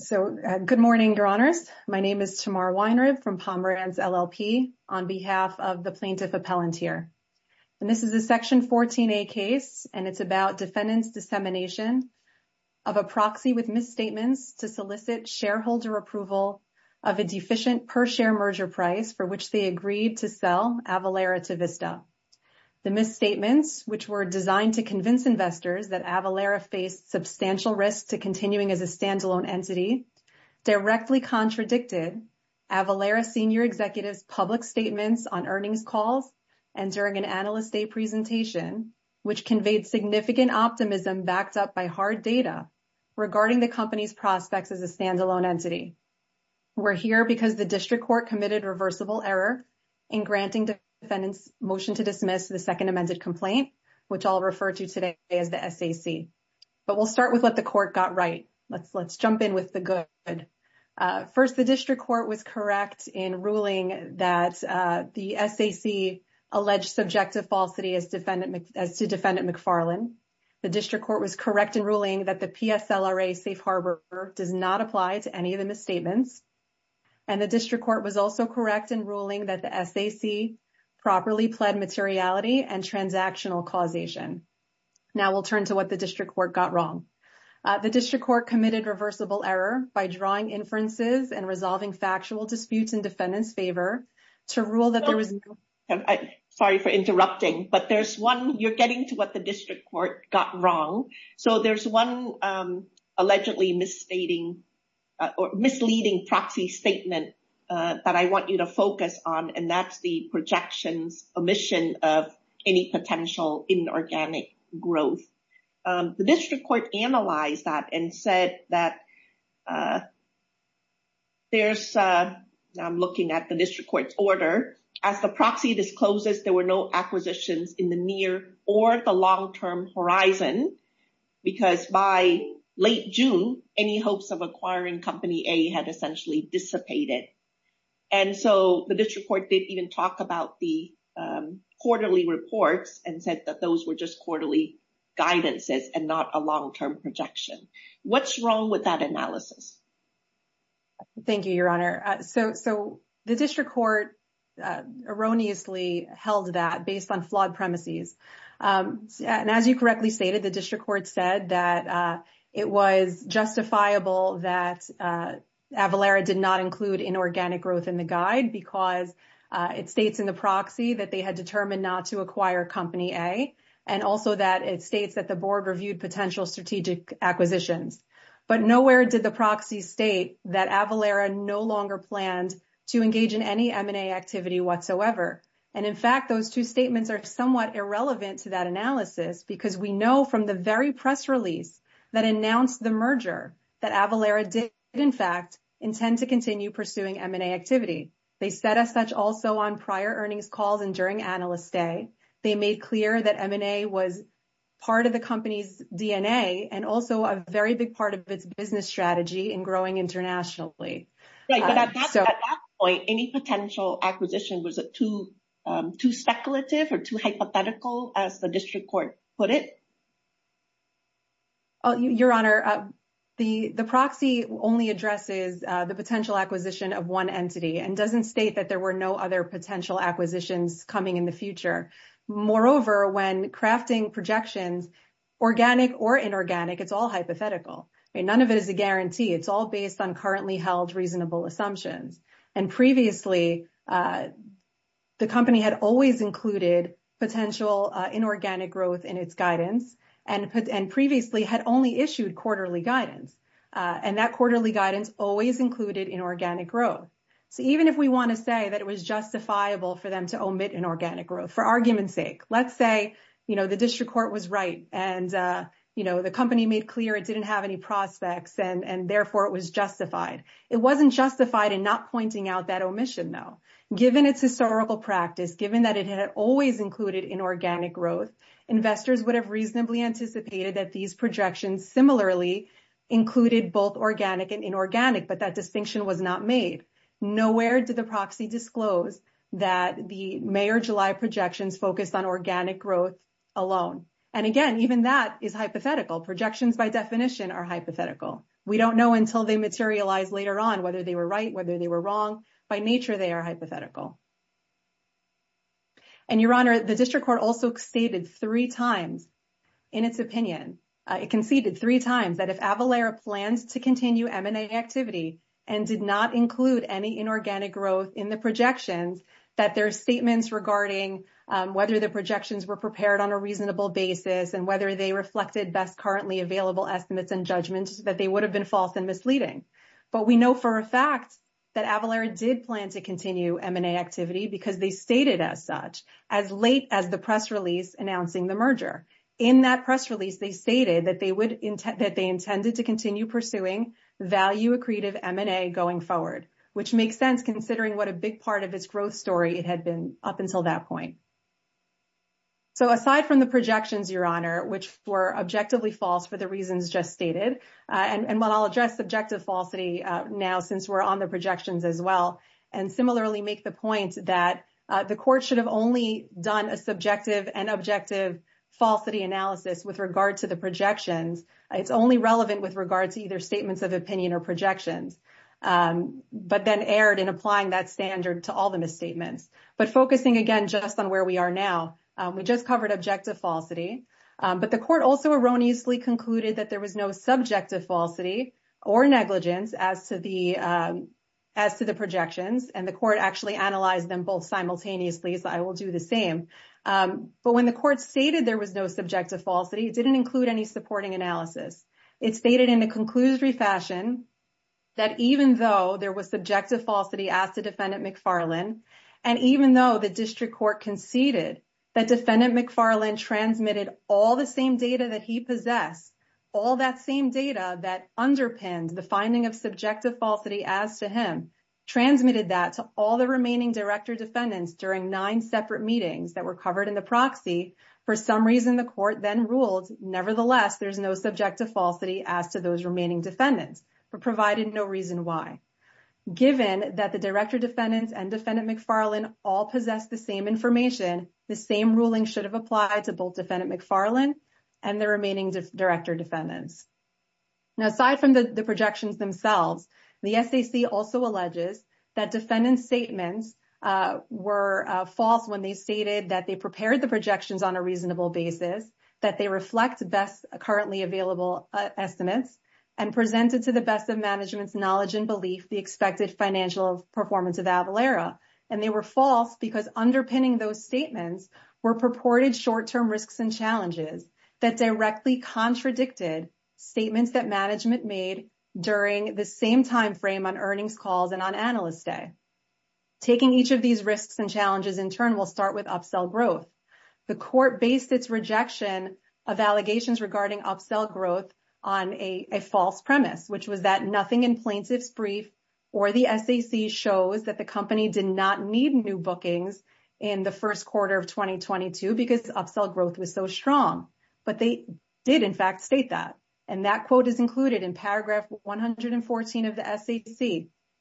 So, good morning, Your Honors. My name is Tamar Weinreb from Pomeranz LLP on behalf of the Plaintiff Appellant here. And this is a Section 14a case, and it's about defendant's dissemination of a proxy with misstatements to solicit shareholder approval of a deficient per-share merger price for which they agreed to sell Avalara to Vista. The misstatements, which were to convince investors that Avalara faced substantial risk to continuing as a standalone entity, directly contradicted Avalara Senior Executive's public statements on earnings calls and during an Analyst Day presentation, which conveyed significant optimism backed up by hard data regarding the company's prospects as a standalone entity. We're here because the District Court committed reversible error in granting defendant's motion to dismiss the amended complaint, which I'll refer to today as the SAC. But we'll start with what the court got right. Let's jump in with the good. First, the District Court was correct in ruling that the SAC alleged subjective falsity as to defendant McFarlane. The District Court was correct in ruling that the PSLRA Safe Harbor does not apply to any of the misstatements. And the District foundational fraud and transactional causation. Now we'll turn to what the District Court got wrong. The District Court committed reversible error by drawing inferences and resolving factual disputes in defendant's favor to rule that there was no... Sorry for interrupting, but there's one... you're getting to what the District Court got wrong. So, there's one allegedly misleading potential inorganic growth. The District Court analyzed that and said that there's... I'm looking at the District Court's order. As the proxy discloses, there were no acquisitions in the near or the long-term horizon because by late June, any hopes of acquiring Company A had essentially dissipated. And so, the District Court didn't even talk about the quarterly reports and said that those were just quarterly guidances and not a long-term projection. What's wrong with that analysis? Thank you, Your Honor. So, the District Court erroneously held that based on flawed premises. And as you correctly stated, the District Court said that it was justifiable that Avalara did not include inorganic growth in the guide because it states in the proxy that they had determined not to acquire Company A. And also that it states that the board reviewed potential strategic acquisitions. But nowhere did the proxy state that Avalara no longer planned to engage in any M&A activity whatsoever. And in fact, those two statements are somewhat irrelevant to that analysis because we know from the very press release that announced the merger that Avalara did, in fact, intend to continue pursuing M&A activity. They said as such also on prior earnings calls and during Analyst Day, they made clear that M&A was part of the company's DNA and also a very big part of its business strategy in growing internationally. Right. But at that point, any potential acquisition was too speculative or hypothetical as the District Court put it? Your Honor, the proxy only addresses the potential acquisition of one entity and doesn't state that there were no other potential acquisitions coming in the future. Moreover, when crafting projections, organic or inorganic, it's all hypothetical. None of it is a guarantee. It's all based on currently held reasonable assumptions. And previously, the company had always included potential inorganic growth in its guidance and previously had only issued quarterly guidance. And that quarterly guidance always included inorganic growth. So even if we want to say that it was justifiable for them to omit inorganic growth for argument's sake, let's say, you know, the District Court was right and, you know, the company made clear it didn't have any prospects and therefore it was justified. It wasn't justified in not pointing out that omission, though. Given its historical practice, given that it had always included inorganic growth, investors would have reasonably anticipated that these projections similarly included both organic and inorganic, but that distinction was not made. Nowhere did the proxy disclose that the May or July projections focused on organic growth alone. And again, even that is hypothetical. Projections by definition are hypothetical. We don't know until they materialize later on whether they were right, whether they were wrong. By nature, they are hypothetical. And, Your Honor, the District Court also stated three times in its opinion, it conceded three times that if Avalara plans to continue M&A activity and did not include any inorganic growth in the projections, that their statements regarding whether the projections were prepared on a reasonable basis and whether they reflected best currently available estimates and judgments that they would have been false and misleading. But we know for a fact that Avalara did plan to continue M&A activity because they stated as such as late as the press release announcing the merger. In that press release, they stated that they intended to continue pursuing value accretive M&A going forward, which makes sense considering what a big part of its growth story it had been up until that point. So, aside from the projections, Your Honor, which were objectively false for the reasons just stated, and while I'll address subjective falsity now since we're on the projections as well, and similarly make the point that the court should have only done a subjective and objective falsity analysis with regard to the projections. It's only relevant with regard to either statements of opinion or projections, but then erred in applying that standard to all the misstatements. But focusing again just on where we are now, we just covered objective falsity, but the court also erroneously concluded that there was no subjective falsity or negligence as to the projections, and the court actually analyzed them both simultaneously, so I will do the same. But when the court stated there was no subjective falsity, it didn't include any supporting analysis. It stated in a conclusory fashion that even though there was subjective falsity as to Defendant McFarlane, and even though the district court conceded that Defendant McFarlane transmitted all the same data that he possessed, all that same data that underpinned the finding of subjective falsity as to him, transmitted that to all the remaining director defendants during nine separate meetings that were covered in the proxy, for some reason the court then ruled nevertheless there's no subjective falsity as to those remaining defendants, but provided no reason why. Given that the director defendants and Defendant McFarlane all possess the same information, the same ruling should have applied to both Defendant McFarlane and the remaining director defendants. Now aside from the projections themselves, the SAC also alleges that defendant statements were false when they stated that they prepared the projections on a reasonable basis, that they reflect best currently available estimates, and presented to the best of management's knowledge and belief the expected financial performance of Avalara, and they were false because underpinning those statements were purported short-term risks and challenges that directly contradicted statements that management made during the same time frame on earnings calls and on Analyst Day. Taking each of these risks and challenges in turn will start with upsell growth. The court based its rejection of allegations regarding upsell growth on a false premise, which was that nothing in plaintiff's brief or the SAC shows that the company did not need new bookings in the first quarter of 2022 because upsell growth was so strong, but they did in fact state that, and that quote is included in paragraph 114 of the SAC.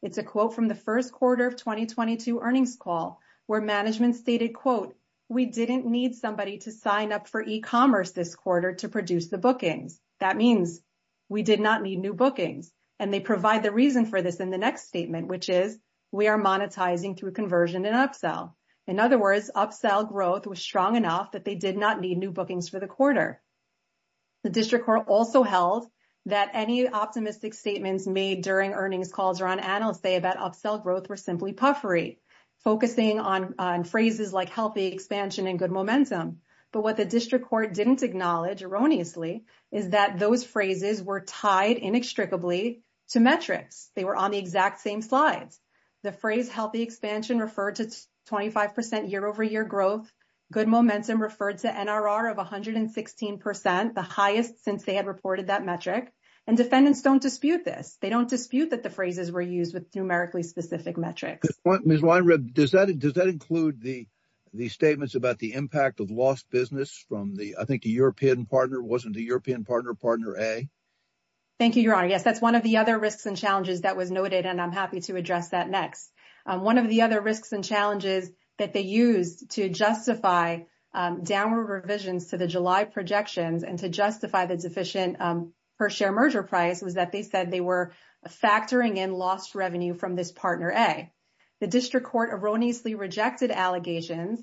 It's a quote from the first quarter of 2022 earnings call where management stated quote, we didn't need somebody to sign up for e-commerce this quarter to produce the bookings. That means we did not need new bookings, and they provide the reason for this in the next statement, which is we are monetizing through conversion and upsell. In other words, upsell growth was strong enough that they did not need new bookings for the quarter. The district court also held that any optimistic statements made during earnings calls or on Analyst Day about upsell growth were simply puffery, focusing on phrases like healthy expansion and good momentum. But what the district court didn't acknowledge erroneously is that those phrases were tied inextricably to metrics. They were on the exact same slides. The phrase healthy expansion referred to 25% year-over-year growth, good momentum referred to NRR of 116%, the highest since they had reported that metric, and defendants don't dispute this. They don't dispute that the phrases were used with numerically specific metrics. Ms. Weinreb, does that include the statements about the impact of lost business from the, I think the European partner, wasn't it the European partner, partner A? Thank you, Your Honor. Yes, that's one of the other risks and challenges that was noted, and I'm happy to address that next. One of the other risks and challenges that they used to justify downward revisions to the July projections and to justify the deficient per share merger price was that they said they were factoring in lost revenue from this partner A. The district court erroneously rejected allegations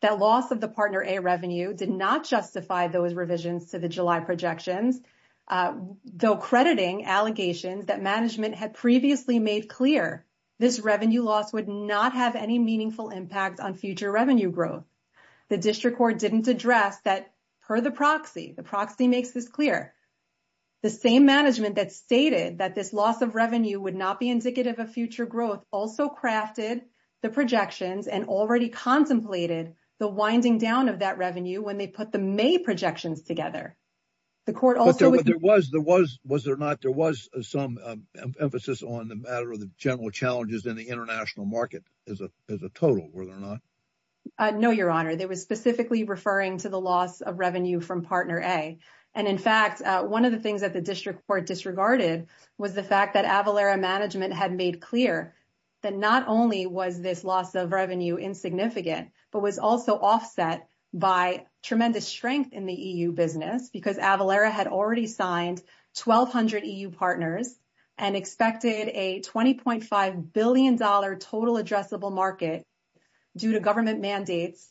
that loss of the partner A revenue did not justify those revisions to the July projections, though crediting allegations that management had previously made clear this revenue loss would not have any meaningful impact on future revenue growth. The district court didn't address that per the proxy. The proxy makes this clear. The same management that stated that this loss of revenue would not be indicative of future growth also crafted the projections and already contemplated the winding down of that revenue when they put the May projections together. The court also- There was some emphasis on the matter of the general challenges in the international market as a total, were there not? No, Your Honor. They were specifically referring to the loss of revenue from partner A. In fact, one of the things that the district court disregarded was the fact that Avalara management had made clear that not only was this loss of revenue insignificant but was also offset by tremendous strength in the EU business because Avalara had already signed 1,200 EU partners and expected a $20.5 billion total addressable market due to government mandates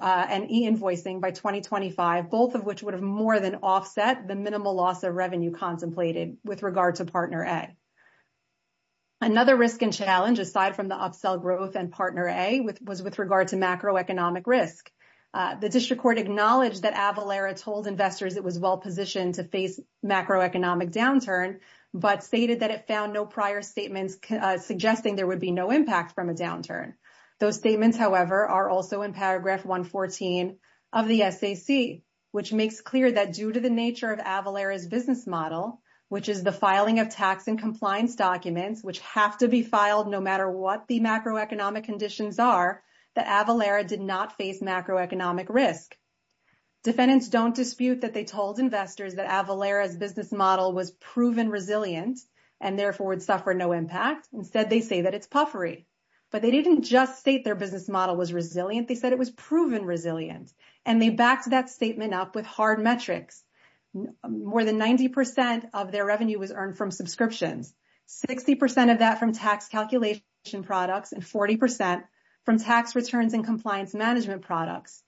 and e-invoicing by 2025, both of which would have more than offset the minimal loss of revenue contemplated with regard to partner A. Another risk and challenge aside from the upsell growth and partner A was with regard to macroeconomic risk. The district court acknowledged that Avalara told investors it was well-positioned to face macroeconomic downturn but stated that it found no prior statements suggesting there would be no impact from a downturn. Those statements, however, are also in paragraph 114 of the SAC, which makes clear that due to the nature of Avalara's business model, which is the filing of tax and compliance documents which have to be filed no matter what the macroeconomic conditions are, that Avalara did face macroeconomic risk. Defendants don't dispute that they told investors that Avalara's business model was proven resilient and therefore would suffer no impact. Instead, they say that it's puffery. But they didn't just state their business model was resilient. They said it was proven resilient. And they backed that statement up with hard metrics. More than 90 percent of their revenue was earned from subscriptions, 60 percent of that from tax calculation products, and 40 from tax returns and compliance management products,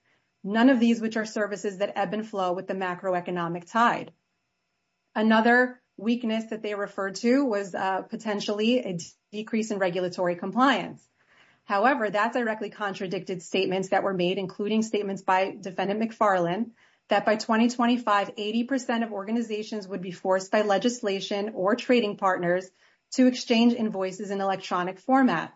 none of these which are services that ebb and flow with the macroeconomic tide. Another weakness that they referred to was potentially a decrease in regulatory compliance. However, that directly contradicted statements that were made, including statements by Defendant McFarlane that by 2025, 80 percent of organizations would be forced by legislation or trading partners to exchange invoices in electronic format.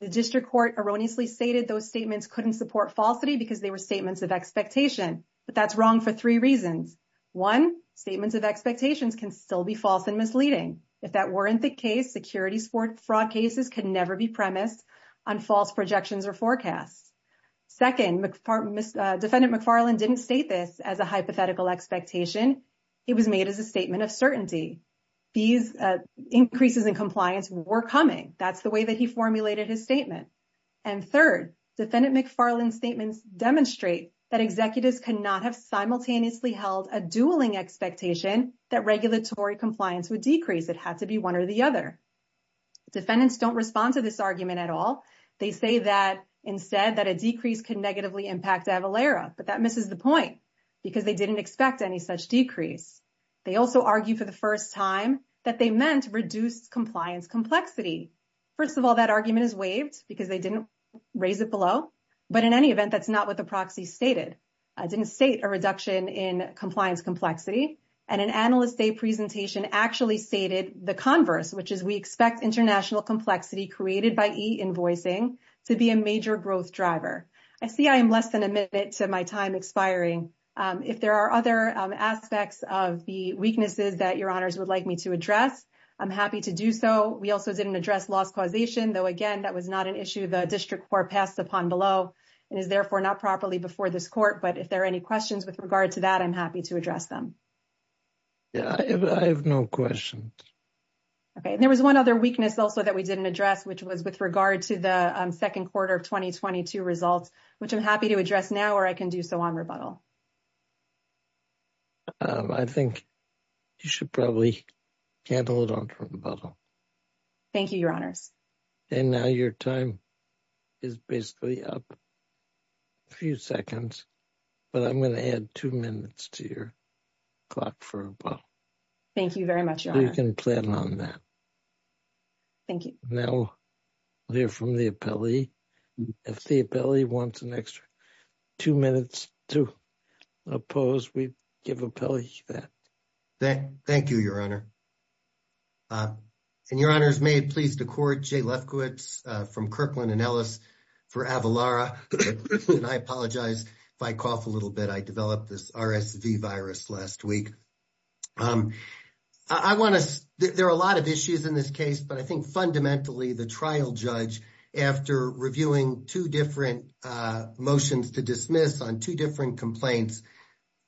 The district court erroneously stated those statements couldn't support falsity because they were statements of expectation. But that's wrong for three reasons. One, statements of expectations can still be false and misleading. If that weren't the case, securities fraud cases could never be premised on false projections or forecasts. Second, Defendant McFarlane didn't state this as a hypothetical expectation. It was made as a statement. And third, Defendant McFarlane's statements demonstrate that executives cannot have simultaneously held a dueling expectation that regulatory compliance would decrease. It had to be one or the other. Defendants don't respond to this argument at all. They say that instead that a decrease could negatively impact Avalara. But that misses the point because they didn't expect any such decrease. They also argue for the first time that they reduced compliance complexity. First of all, that argument is waived because they didn't raise it below. But in any event, that's not what the proxy stated. I didn't state a reduction in compliance complexity. And an Analyst Day presentation actually stated the converse, which is we expect international complexity created by e-invoicing to be a major growth driver. I see I am less than a minute to my time expiring. If there are other aspects of the weaknesses that Your Honors would like me to address, I'm happy to do so. We also didn't address loss causation, though, again, that was not an issue the district court passed upon below and is therefore not properly before this court. But if there are any questions with regard to that, I'm happy to address them. Yeah, I have no questions. Okay. And there was one other weakness also that we didn't address, which was with regard to the second quarter of 2022 results, which I'm happy to address now or I can do so on rebuttal. Okay. I think you should probably can't hold on to rebuttal. Thank you, Your Honors. And now your time is basically up a few seconds, but I'm going to add two minutes to your clock for rebuttal. Thank you very much, Your Honors. You can plan on that. Thank you. Now we'll hear from the appellee. If the appellee wants an extra two minutes to oppose, we give the appellee that. Thank you, Your Honor. And Your Honors, may it please the court, Jay Lefkowitz from Kirkland & Ellis for Avalara. And I apologize if I cough a little bit. I developed this RSV virus last week. I want to, there are a lot of issues in this case, but I think fundamentally the trial judge after reviewing two different motions to dismiss on two different complaints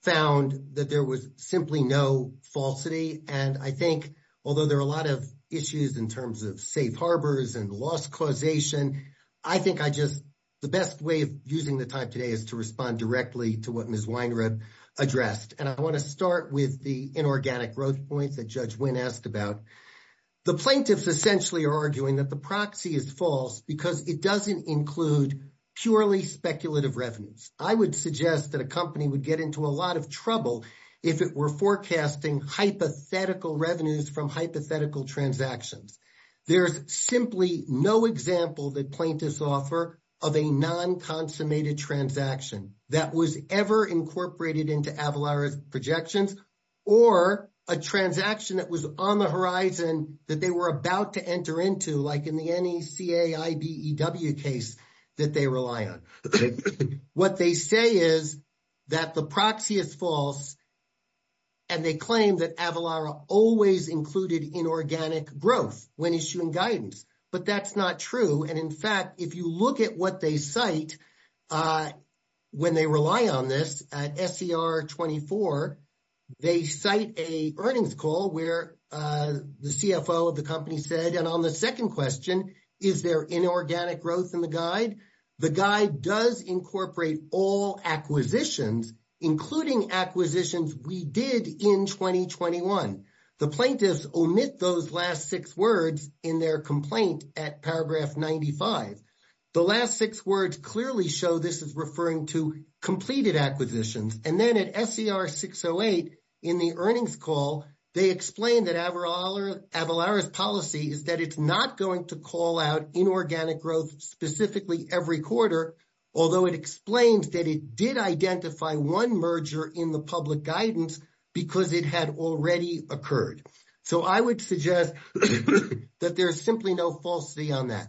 found that there was simply no falsity. And I think, although there are a lot of issues in terms of safe harbors and loss causation, I think I just, the best way of using the time today is to respond directly to what addressed. And I want to start with the inorganic growth points that Judge Wynn asked about. The plaintiffs essentially are arguing that the proxy is false because it doesn't include purely speculative revenues. I would suggest that a company would get into a lot of trouble if it were forecasting hypothetical revenues from hypothetical transactions. There's simply no example that plaintiffs offer of a non-consummated transaction that was ever incorporated into Avalara's projections or a transaction that was on the horizon that they were about to enter into, like in the NECA IBEW case that they rely on. What they say is that the proxy is false. And they claim that Avalara always included inorganic growth when issuing guidance. But that's not true. And in fact, if you look at what they cite when they rely on this at SCR 24, they cite a earnings call where the CFO of the company said, and on the second question, is there inorganic growth in the guide? The guide does incorporate all acquisitions, including acquisitions we did in 2021. The plaintiffs omit those last six words in their complaint at paragraph 95. The last six words clearly show this is referring to completed acquisitions. And then at SCR 608 in the earnings call, they explain that Avalara's policy is that it's not going to call out inorganic growth specifically every quarter, although it explains that it did identify one merger in the public guidance because it had already occurred. So, I would suggest that there's simply no falsity on that.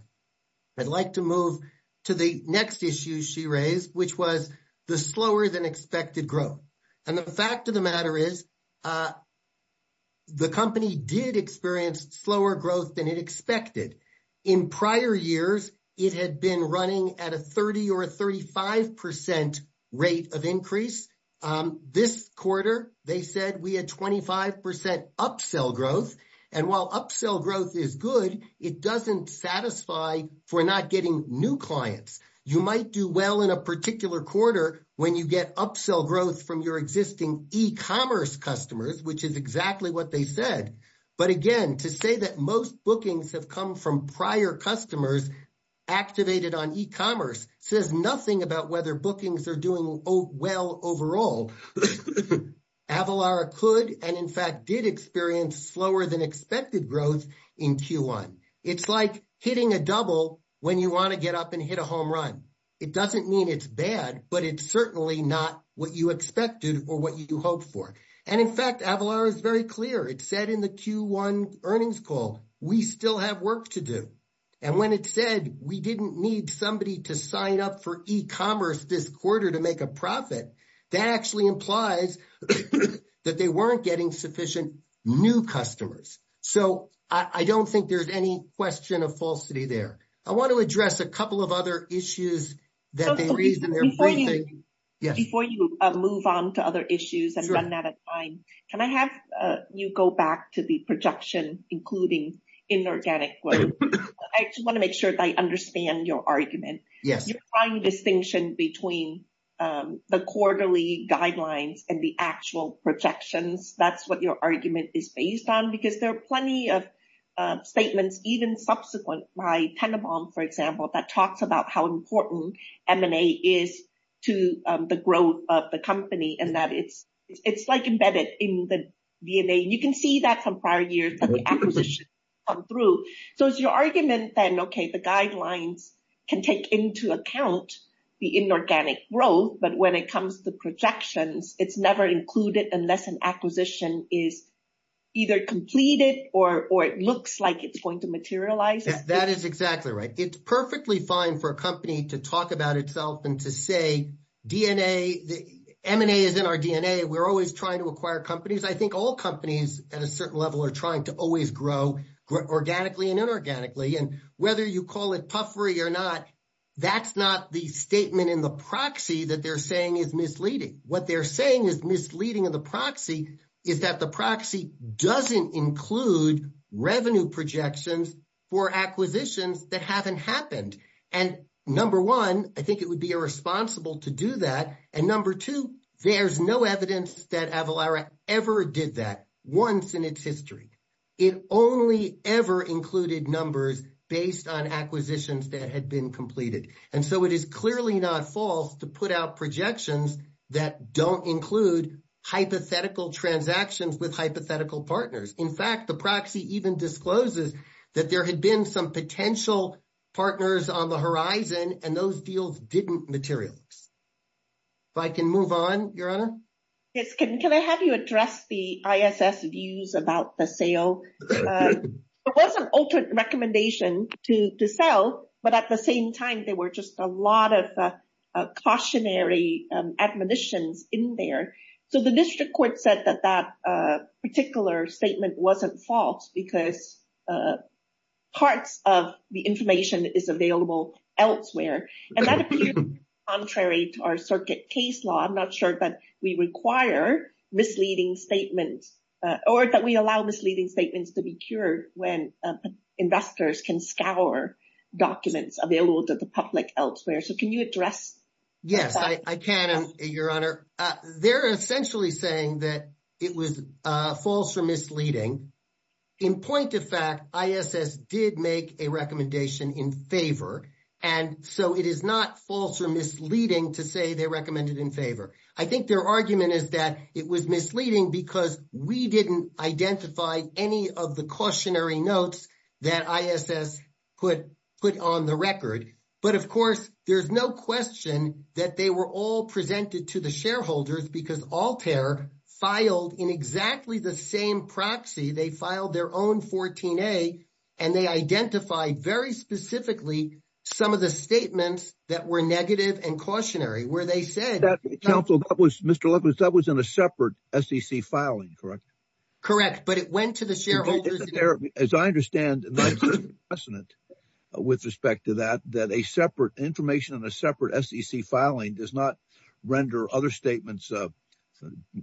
I'd like to move to the next issue she raised, which was the slower than expected growth. And the fact of the matter is the company did experience slower growth than it expected. In prior years, it had been running at a 30 or a 35% rate of increase. This quarter, they said we had 25% upsell growth. And while upsell growth is good, it doesn't satisfy for not getting new clients. You might do well in a particular quarter when you get upsell growth from your existing e-commerce customers, which is exactly what they said. But again, to say that most bookings have come from prior customers activated on e-commerce says nothing about whether bookings are doing well overall. Avalara could and in fact did experience slower than expected growth in Q1. It's like hitting a double when you want to get up and hit a home run. It doesn't mean it's bad, but it's certainly not what you expected or what you hoped for. And in fact, Avalara is very clear. It said in the Q1 earnings call, we still have work to do. And when it said we didn't need somebody to sign up for e-commerce this quarter to make a profit, that actually implies that they weren't getting sufficient new customers. So I don't think there's any question of falsity there. I want to address a couple of other issues. So before you move on to other issues and run out of time, can I have you go back to the projection, including inorganic growth? I just want to make sure that I understand your argument. You're trying distinction between the quarterly guidelines and the actual projections. That's what your argument is based on, because there are plenty of statements, even subsequent by Tenenbaum, for example, that talks about how important M&A is to the growth of the company and that it's like embedded in the DNA. You can see that from prior years of the acquisition come through. So is your argument then, OK, the guidelines can take into account the inorganic growth, but when it comes to projections, it's never included unless an acquisition is either completed or it looks like it's going to materialize? That is exactly right. It's perfectly fine for a company to talk about itself and to say, M&A is in our DNA. We're always trying to acquire companies. I think all companies at a certain level are trying to always grow organically and inorganically. And whether you call it puffery or not, that's not the statement in the proxy that they're saying is misleading. What they're saying is misleading in the proxy is that the proxy doesn't include revenue projections for acquisitions that haven't happened. And number one, I think it would be irresponsible to do that. And number two, there's no evidence that Avalara ever did that once in its history. It only ever included numbers based on acquisitions that had been completed. And so it is clearly not false to put out projections that don't include hypothetical transactions with hypothetical partners. In fact, the proxy even discloses that there had been some potential partners on the horizon and those deals didn't materialize. If I can move on, Your Honor? Yes. Can I have you address the ISS views about the sale? There was an alternate recommendation to sell, but at the same time, there were just a lot of cautionary admonitions in there. So the district court said that that particular statement wasn't false because parts of the information is available elsewhere. And that appears contrary to our circuit case law. I'm not sure that we require misleading statements or that we allow misleading statements to be cured when investors can scour documents available to the public elsewhere. So can you address that? Yes, I can, Your Honor. They're essentially saying that it was false or misleading. In point of fact, ISS did make a recommendation in favor. And so it is not false or misleading to say they recommend it in favor. I think their argument is that it was misleading because we didn't identify any of the cautionary notes that ISS put on the record. But, of course, there's no question that they were all presented to the shareholders because Altair filed in exactly the same proxy. They filed their own 14A and they identified very specifically some of the statements that were negative and cautionary where they said. Mr. Lefkowitz, that was in a separate SEC filing, correct? Correct. But it went to the shareholders. As I understand, with respect to that, that a separate information and a separate SEC filing does not render other statements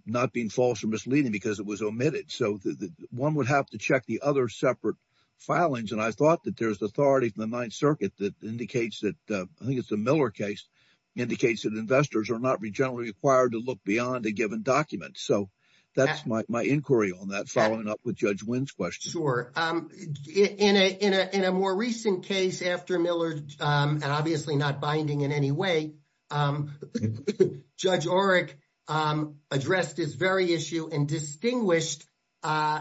not being false or misleading because it was omitted. So one would have to check the other separate filings. And I thought that there's authority from the Ninth Circuit that indicates that, I think it's the Miller case, indicates that investors are not generally required to look beyond a given document. So that's my inquiry on that, following up with Judge Wynn's question. In a more recent case after Miller, and obviously not binding in any way, Judge Oreck addressed this very issue and distinguished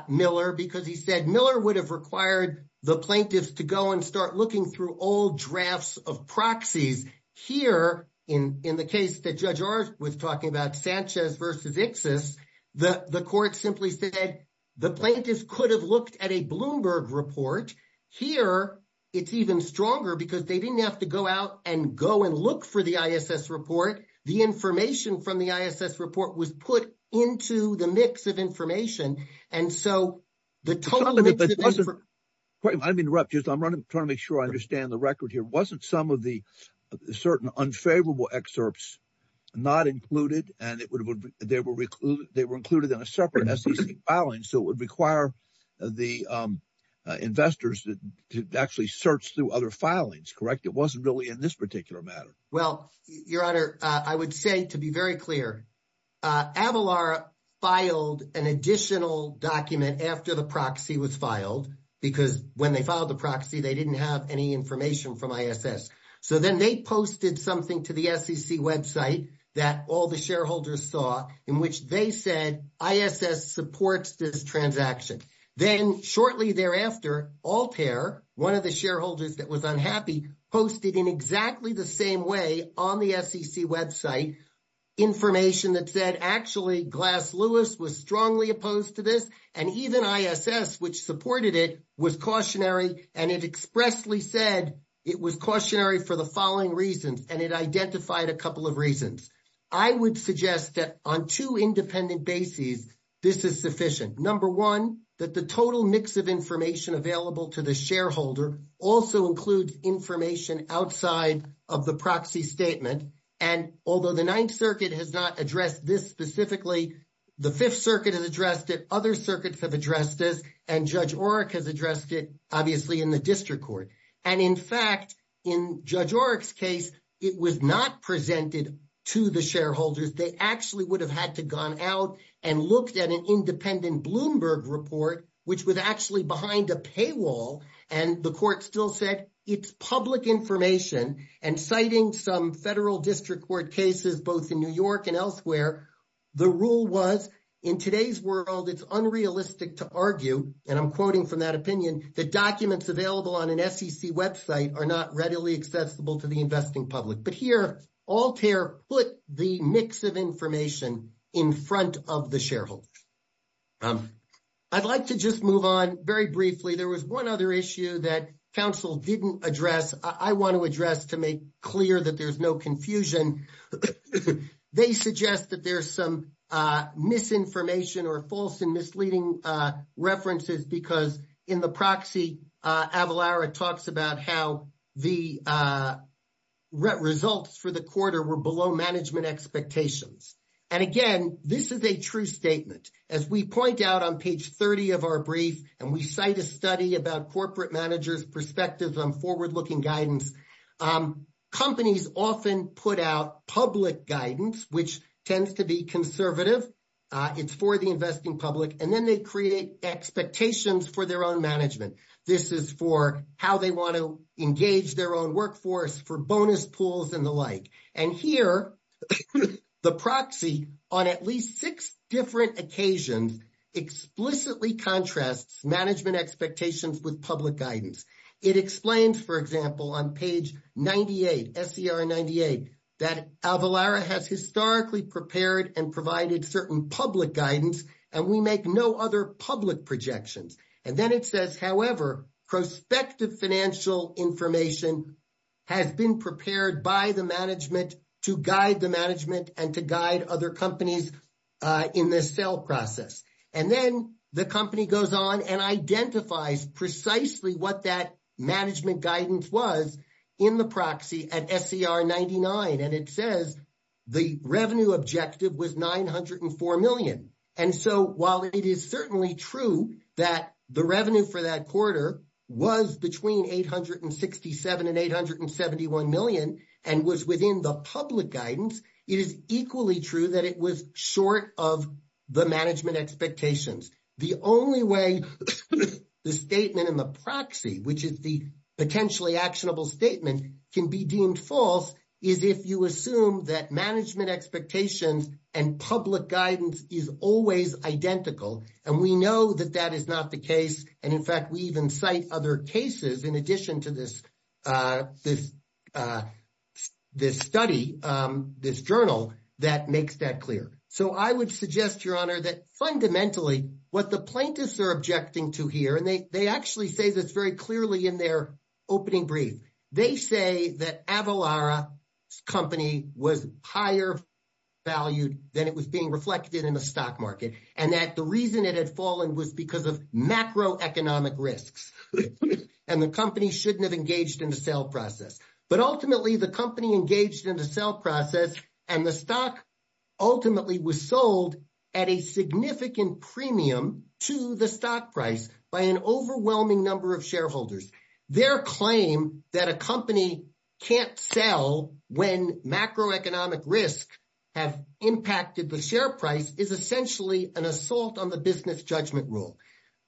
Miller because he said Miller would have required the plaintiffs to go and start looking through old drafts of proxies. Here, in the case that Judge Oreck was talking about, Sanchez v. Iksis, the court simply said the plaintiffs could have looked at a Bloomberg report. Here, it's even stronger because they didn't have to go out and go and look for the ISS report. The information from the ISS report was put into the mix of information. And so the total mix of information— I'm interrupting. I'm trying to make sure I understand the record here. It wasn't some of the certain unfavorable excerpts not included, and they were included in a separate SEC filing. So it would require the investors to actually search through other filings, correct? It wasn't really in this particular matter. Well, Your Honor, I would say, to be very clear, Avalar filed an additional document after the proxy was filed, because when they filed the proxy, they didn't have any information from ISS. So then they posted something to the SEC website that all the shareholders saw, in which they said, ISS supports this transaction. Then, shortly thereafter, Altair, one of the shareholders that was unhappy, posted in exactly the same way on the SEC website, information that said, actually, Glass-Lewis was strongly opposed to this, and even ISS, which supported it, was cautionary, and it expressly said it was cautionary for the following reasons, and it identified a couple of reasons. I would suggest that on two independent bases, this is sufficient. Number one, that the total mix of information available to the shareholder also includes information outside of the proxy statement. And although the Ninth Circuit has not addressed this specifically, the Fifth Circuit has addressed it, other circuits have addressed this, and Judge Oreck has addressed it, obviously, in the district court. And in fact, in Judge Oreck's case, it was not presented to the shareholders. They actually would have had to gone out and looked at an independent Bloomberg report, which was actually behind a paywall, and the court still said, it's public information, and citing some federal district court cases, both in New York and elsewhere, the rule was, in today's world, it's unrealistic to argue, and I'm quoting from that opinion, that documents available on an SEC website are not readily accessible to the investing public. But here, Altair put the mix of information in front of the shareholders. I'd like to just move on very briefly. There was one other issue that counsel didn't address, I want to address to make clear that there's no confusion. They suggest that there's some misinformation or false and misleading references, because in the proxy, Avalara talks about how the results for the quarter were below management expectations. And again, this is a true statement. As we point out on page 30 of our brief, and we cite a study about corporate managers' perspectives on forward-looking guidance, companies often put out public guidance, which tends to be conservative. It's for the investing public, and then they create expectations for their own management. This is for how they want to engage their own workforce, for bonus pools and the like. And here, the proxy, on at least six different occasions, explicitly contrasts management expectations with public guidance. It explains, for example, on page 98, SCR 98, that Avalara has historically prepared and provided certain public guidance, and we make no other public projections. And then it says, however, prospective financial information has been prepared by the management to guide the management and to guide other companies in this sale process. And then the company goes on and identifies precisely what that management guidance was in the proxy at SCR 99. And it says the revenue objective was $904 million. And so while it is certainly true that the revenue for that quarter was between $867 and $871 million, and was within the public guidance, it is equally true that it was short of the management expectations. The only way the statement in the proxy, which is the potentially actionable statement, can be deemed false is if you assume that management expectations and public guidance is always identical. And we know that that is not the case. And in fact, we even cite other cases in addition to this study, this journal, that makes that clear. So I would suggest, Your Honor, that fundamentally, what the plaintiffs are objecting to here, and they actually say this very clearly in their opening brief, they say that Avalara's company was higher valued than it was being reflected in the stock market, and that the reason it had fallen was because of macroeconomic risks. And the company shouldn't have engaged in the sale process. But ultimately, the company engaged in the sale process, and the stock ultimately was sold at a significant premium to the stock price by an overwhelming number of shareholders. Their claim that a company can't sell when macroeconomic risks have impacted the share price is essentially an assault on the business judgment rule.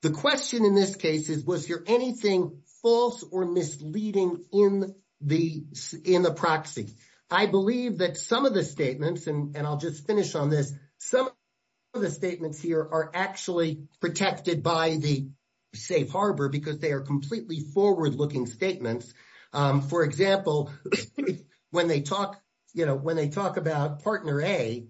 The question in this case is, was there anything false or misleading in the proxy? I believe that some of the statements, and I'll just finish on this, some of the statements here are actually protected by the safe harbor because they are completely forward-looking statements. For example, when they talk about partner A,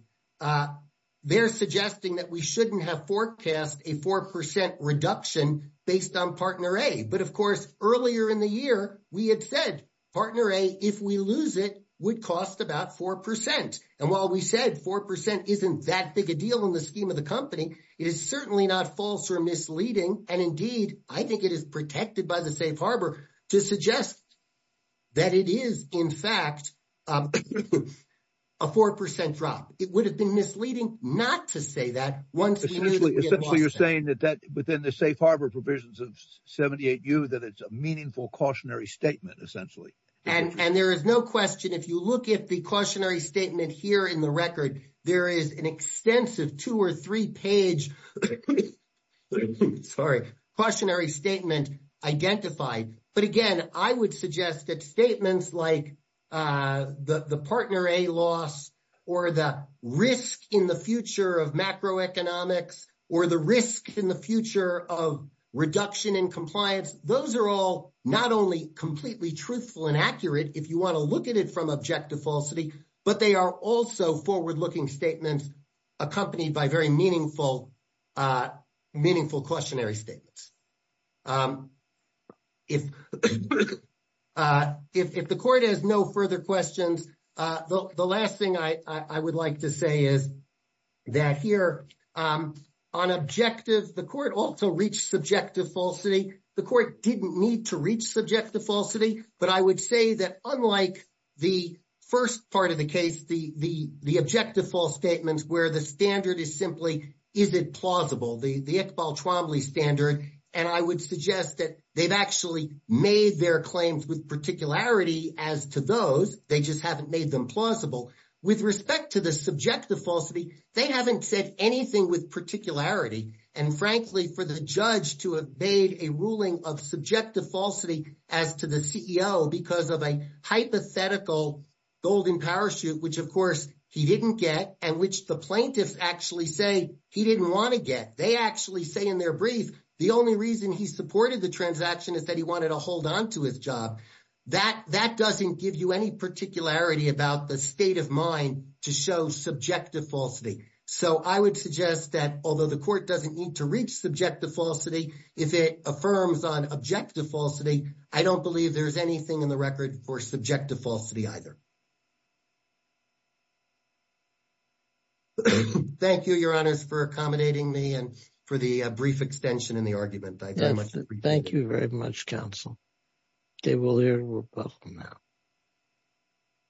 they're suggesting that we shouldn't have forecast a 4% reduction based on partner A. But of course, earlier in the year, we had said partner A, if we lose it, would cost about 4%. And while we said 4% isn't that big a deal in the scheme of the company, it is certainly not false or misleading. And indeed, I think it is protected by the safe harbor to suggest that it is, in fact, a 4% drop. It would have been misleading not to say that. Essentially, you're saying that within the safe harbor provisions of 78U, that it's a meaningful cautionary statement, essentially. And there is no question. If you look at the cautionary statement here in the record, there is an extensive two or three page cautionary statement identified. But again, I would suggest that statements like the partner A loss or the risk in the future of macroeconomics or the risk in the future of reduction in compliance, those are all not only completely truthful and accurate if you want to look at it from objective falsity, but they are also forward-looking statements accompanied by very meaningful cautionary statements. If the court has no further questions, the last thing I would like to say is that here on objective, the court also reached subjective falsity. The court didn't need to reach subjective falsity. But I would say that unlike the first part of the case, the objective false statements where the standard is simply, is it plausible, the Iqbal-Chwambli standard. And I would suggest that they've actually made their claims with particularity as to those. They just haven't made them plausible. With respect to the subjective falsity, they haven't said anything with particularity. And frankly, for the judge to have made a ruling of subjective falsity as to the CEO because of a hypothetical golden parachute, which of course he didn't get, and which the plaintiffs actually say he didn't want to get. They actually say in their brief, the only reason he supported the transaction is that he wanted to hold on to his job. That doesn't give you any particularity about the state of mind to show subjective falsity. So I would suggest that although the court doesn't need to reach subjective falsity, if it affirms on objective falsity, I don't believe there's anything in the record for subjective falsity either. Thank you, your honors, for accommodating me and for the brief extension in the argument. Thank you very much, counsel. Dave O'Leary, you're welcome now.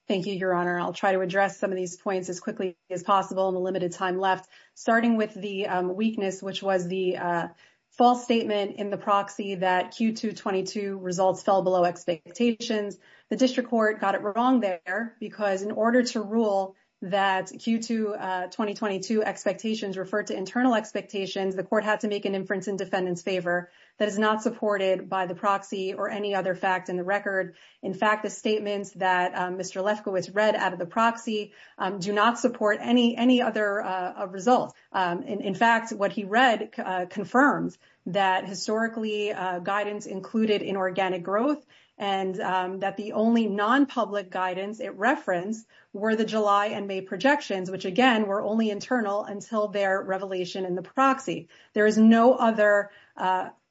Thank you, your honor. I'll try to address some of these points as quickly as possible in the limited time left. Starting with the weakness, which was the false statement in the proxy that Q222 results fell below expectations. The district court got it wrong there because in order to rule that Q222 expectations referred to internal expectations, the court had to make an inference in defendant's favor that is not supported by the proxy or any other facts in the record. In fact, the statements that Mr. Lefkowitz read out of the proxy do not support any other results. In fact, what he read confirms that historically guidance included inorganic growth and that the only non-public guidance it referenced were the July and May projections, which again were only internal until their revelation in the proxy. There is no other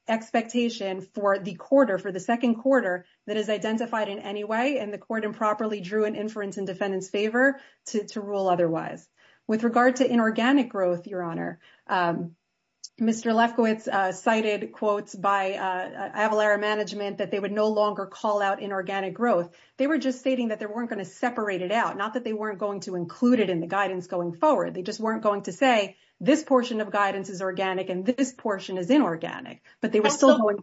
expectation for the quarter, for the second quarter that is identified in any way and the court improperly drew an inference in defendant's favor to rule otherwise. With regard to inorganic growth, your honor, Mr. Lefkowitz cited quotes by Avalara management that they would no longer call out inorganic growth. They were just stating that they weren't gonna separate it out, not that they weren't going to include it in the guidance going forward. They just weren't going to say this portion of guidance is organic and this portion is inorganic, but they were still going.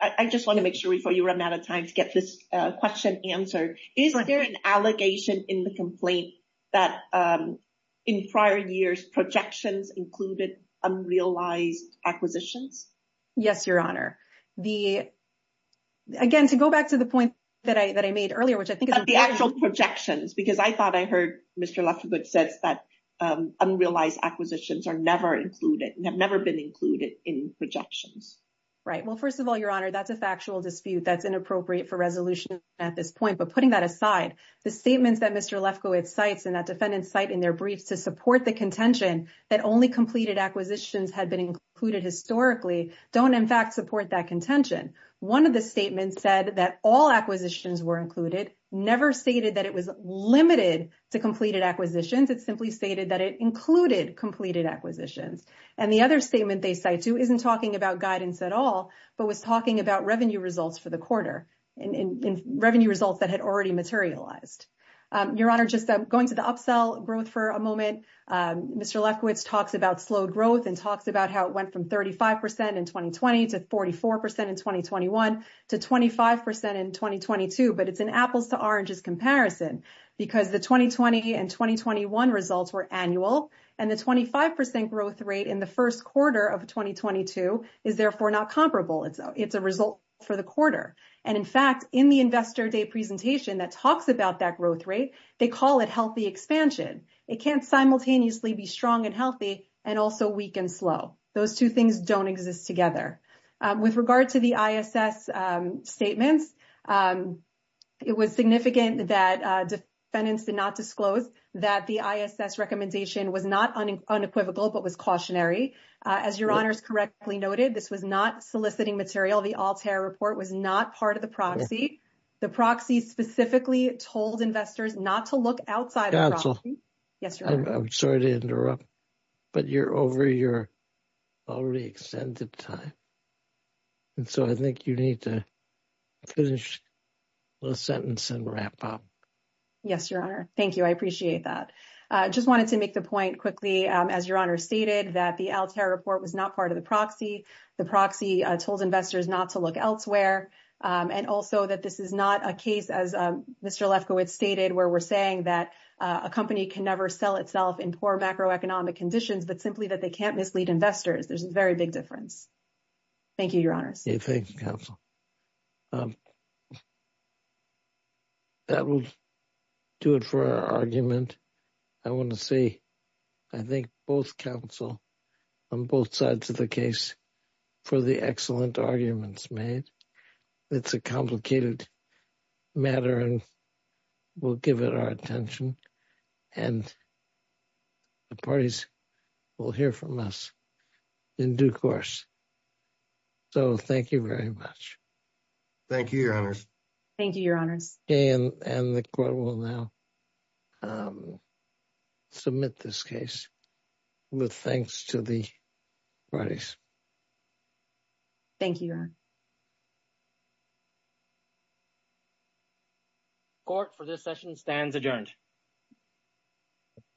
Also, I just want to make sure before you run out of time to get this question answered. Is there an allegation in the complaint that in prior years projections included unrealized acquisitions? Yes, your honor. Again, to go back to the point that I made earlier, which I think is- The actual projections, because I thought I heard Mr. Lefkowitz says that unrealized acquisitions are never included and have never been included in projections. Right. Well, first of all, your honor, that's a factual dispute. That's inappropriate for resolution at this point. But putting that aside, the statements that Mr. Lefkowitz cites and that defendants cite in their briefs to support the contention that only completed acquisitions had been included historically don't in fact support that contention. One of the statements said that all acquisitions were included, never stated that it was limited to completed acquisitions. It simply stated that it included completed acquisitions. And the other statement they cite to isn't talking about guidance at all, but was talking about revenue results for the quarter and revenue results that had already materialized. Your honor, just going to the upsell growth for a moment, Mr. Lefkowitz talks about slowed growth and talks about how it went from 35% in 2020 to 44% in 2021 to 25% in 2022. But it's an apples to oranges comparison because the 2020 and 2021 results were annual and the 25% growth rate in the first quarter of 2022 is therefore not comparable. It's a result for the quarter. And in fact, in the investor day presentation that talks about that growth rate, they call it healthy expansion. It can't simultaneously be strong and healthy and also weak and slow. Those two things don't exist together. With regard to the ISS statements, it was significant that defendants did not disclose that the ISS recommendation was not unequivocal, but was cautionary. As your honors correctly noted, this was not soliciting material. The Altair report was not part of the proxy. The proxy specifically told investors not to look outside of the proxy. Yes, your honor. I'm sorry to interrupt, but you're over your already extended time. And so I think you need to finish the sentence and wrap up. Yes, your honor. Thank you. I appreciate that. I just wanted to make the point quickly, as your honor stated, that the Altair report was not part of the proxy. The proxy told investors not to look elsewhere. And also that this is not a case, as Mr. Lefkowitz stated, where we're saying that a company can never sell itself in poor macroeconomic conditions, but simply that they can't mislead investors. There's a very big difference. Thank you, your honors. Thank you, counsel. That will do it for our argument. I want to say, I think both counsel on both sides of the case for the excellent arguments made. It's a complicated matter and we'll give it our attention and the parties will hear from us in due course. So thank you very much. Thank you, your honors. Thank you, your honors. And the court will now submit this case. With thanks to the parties. Thank you, your honor. Court, for this session, stands adjourned.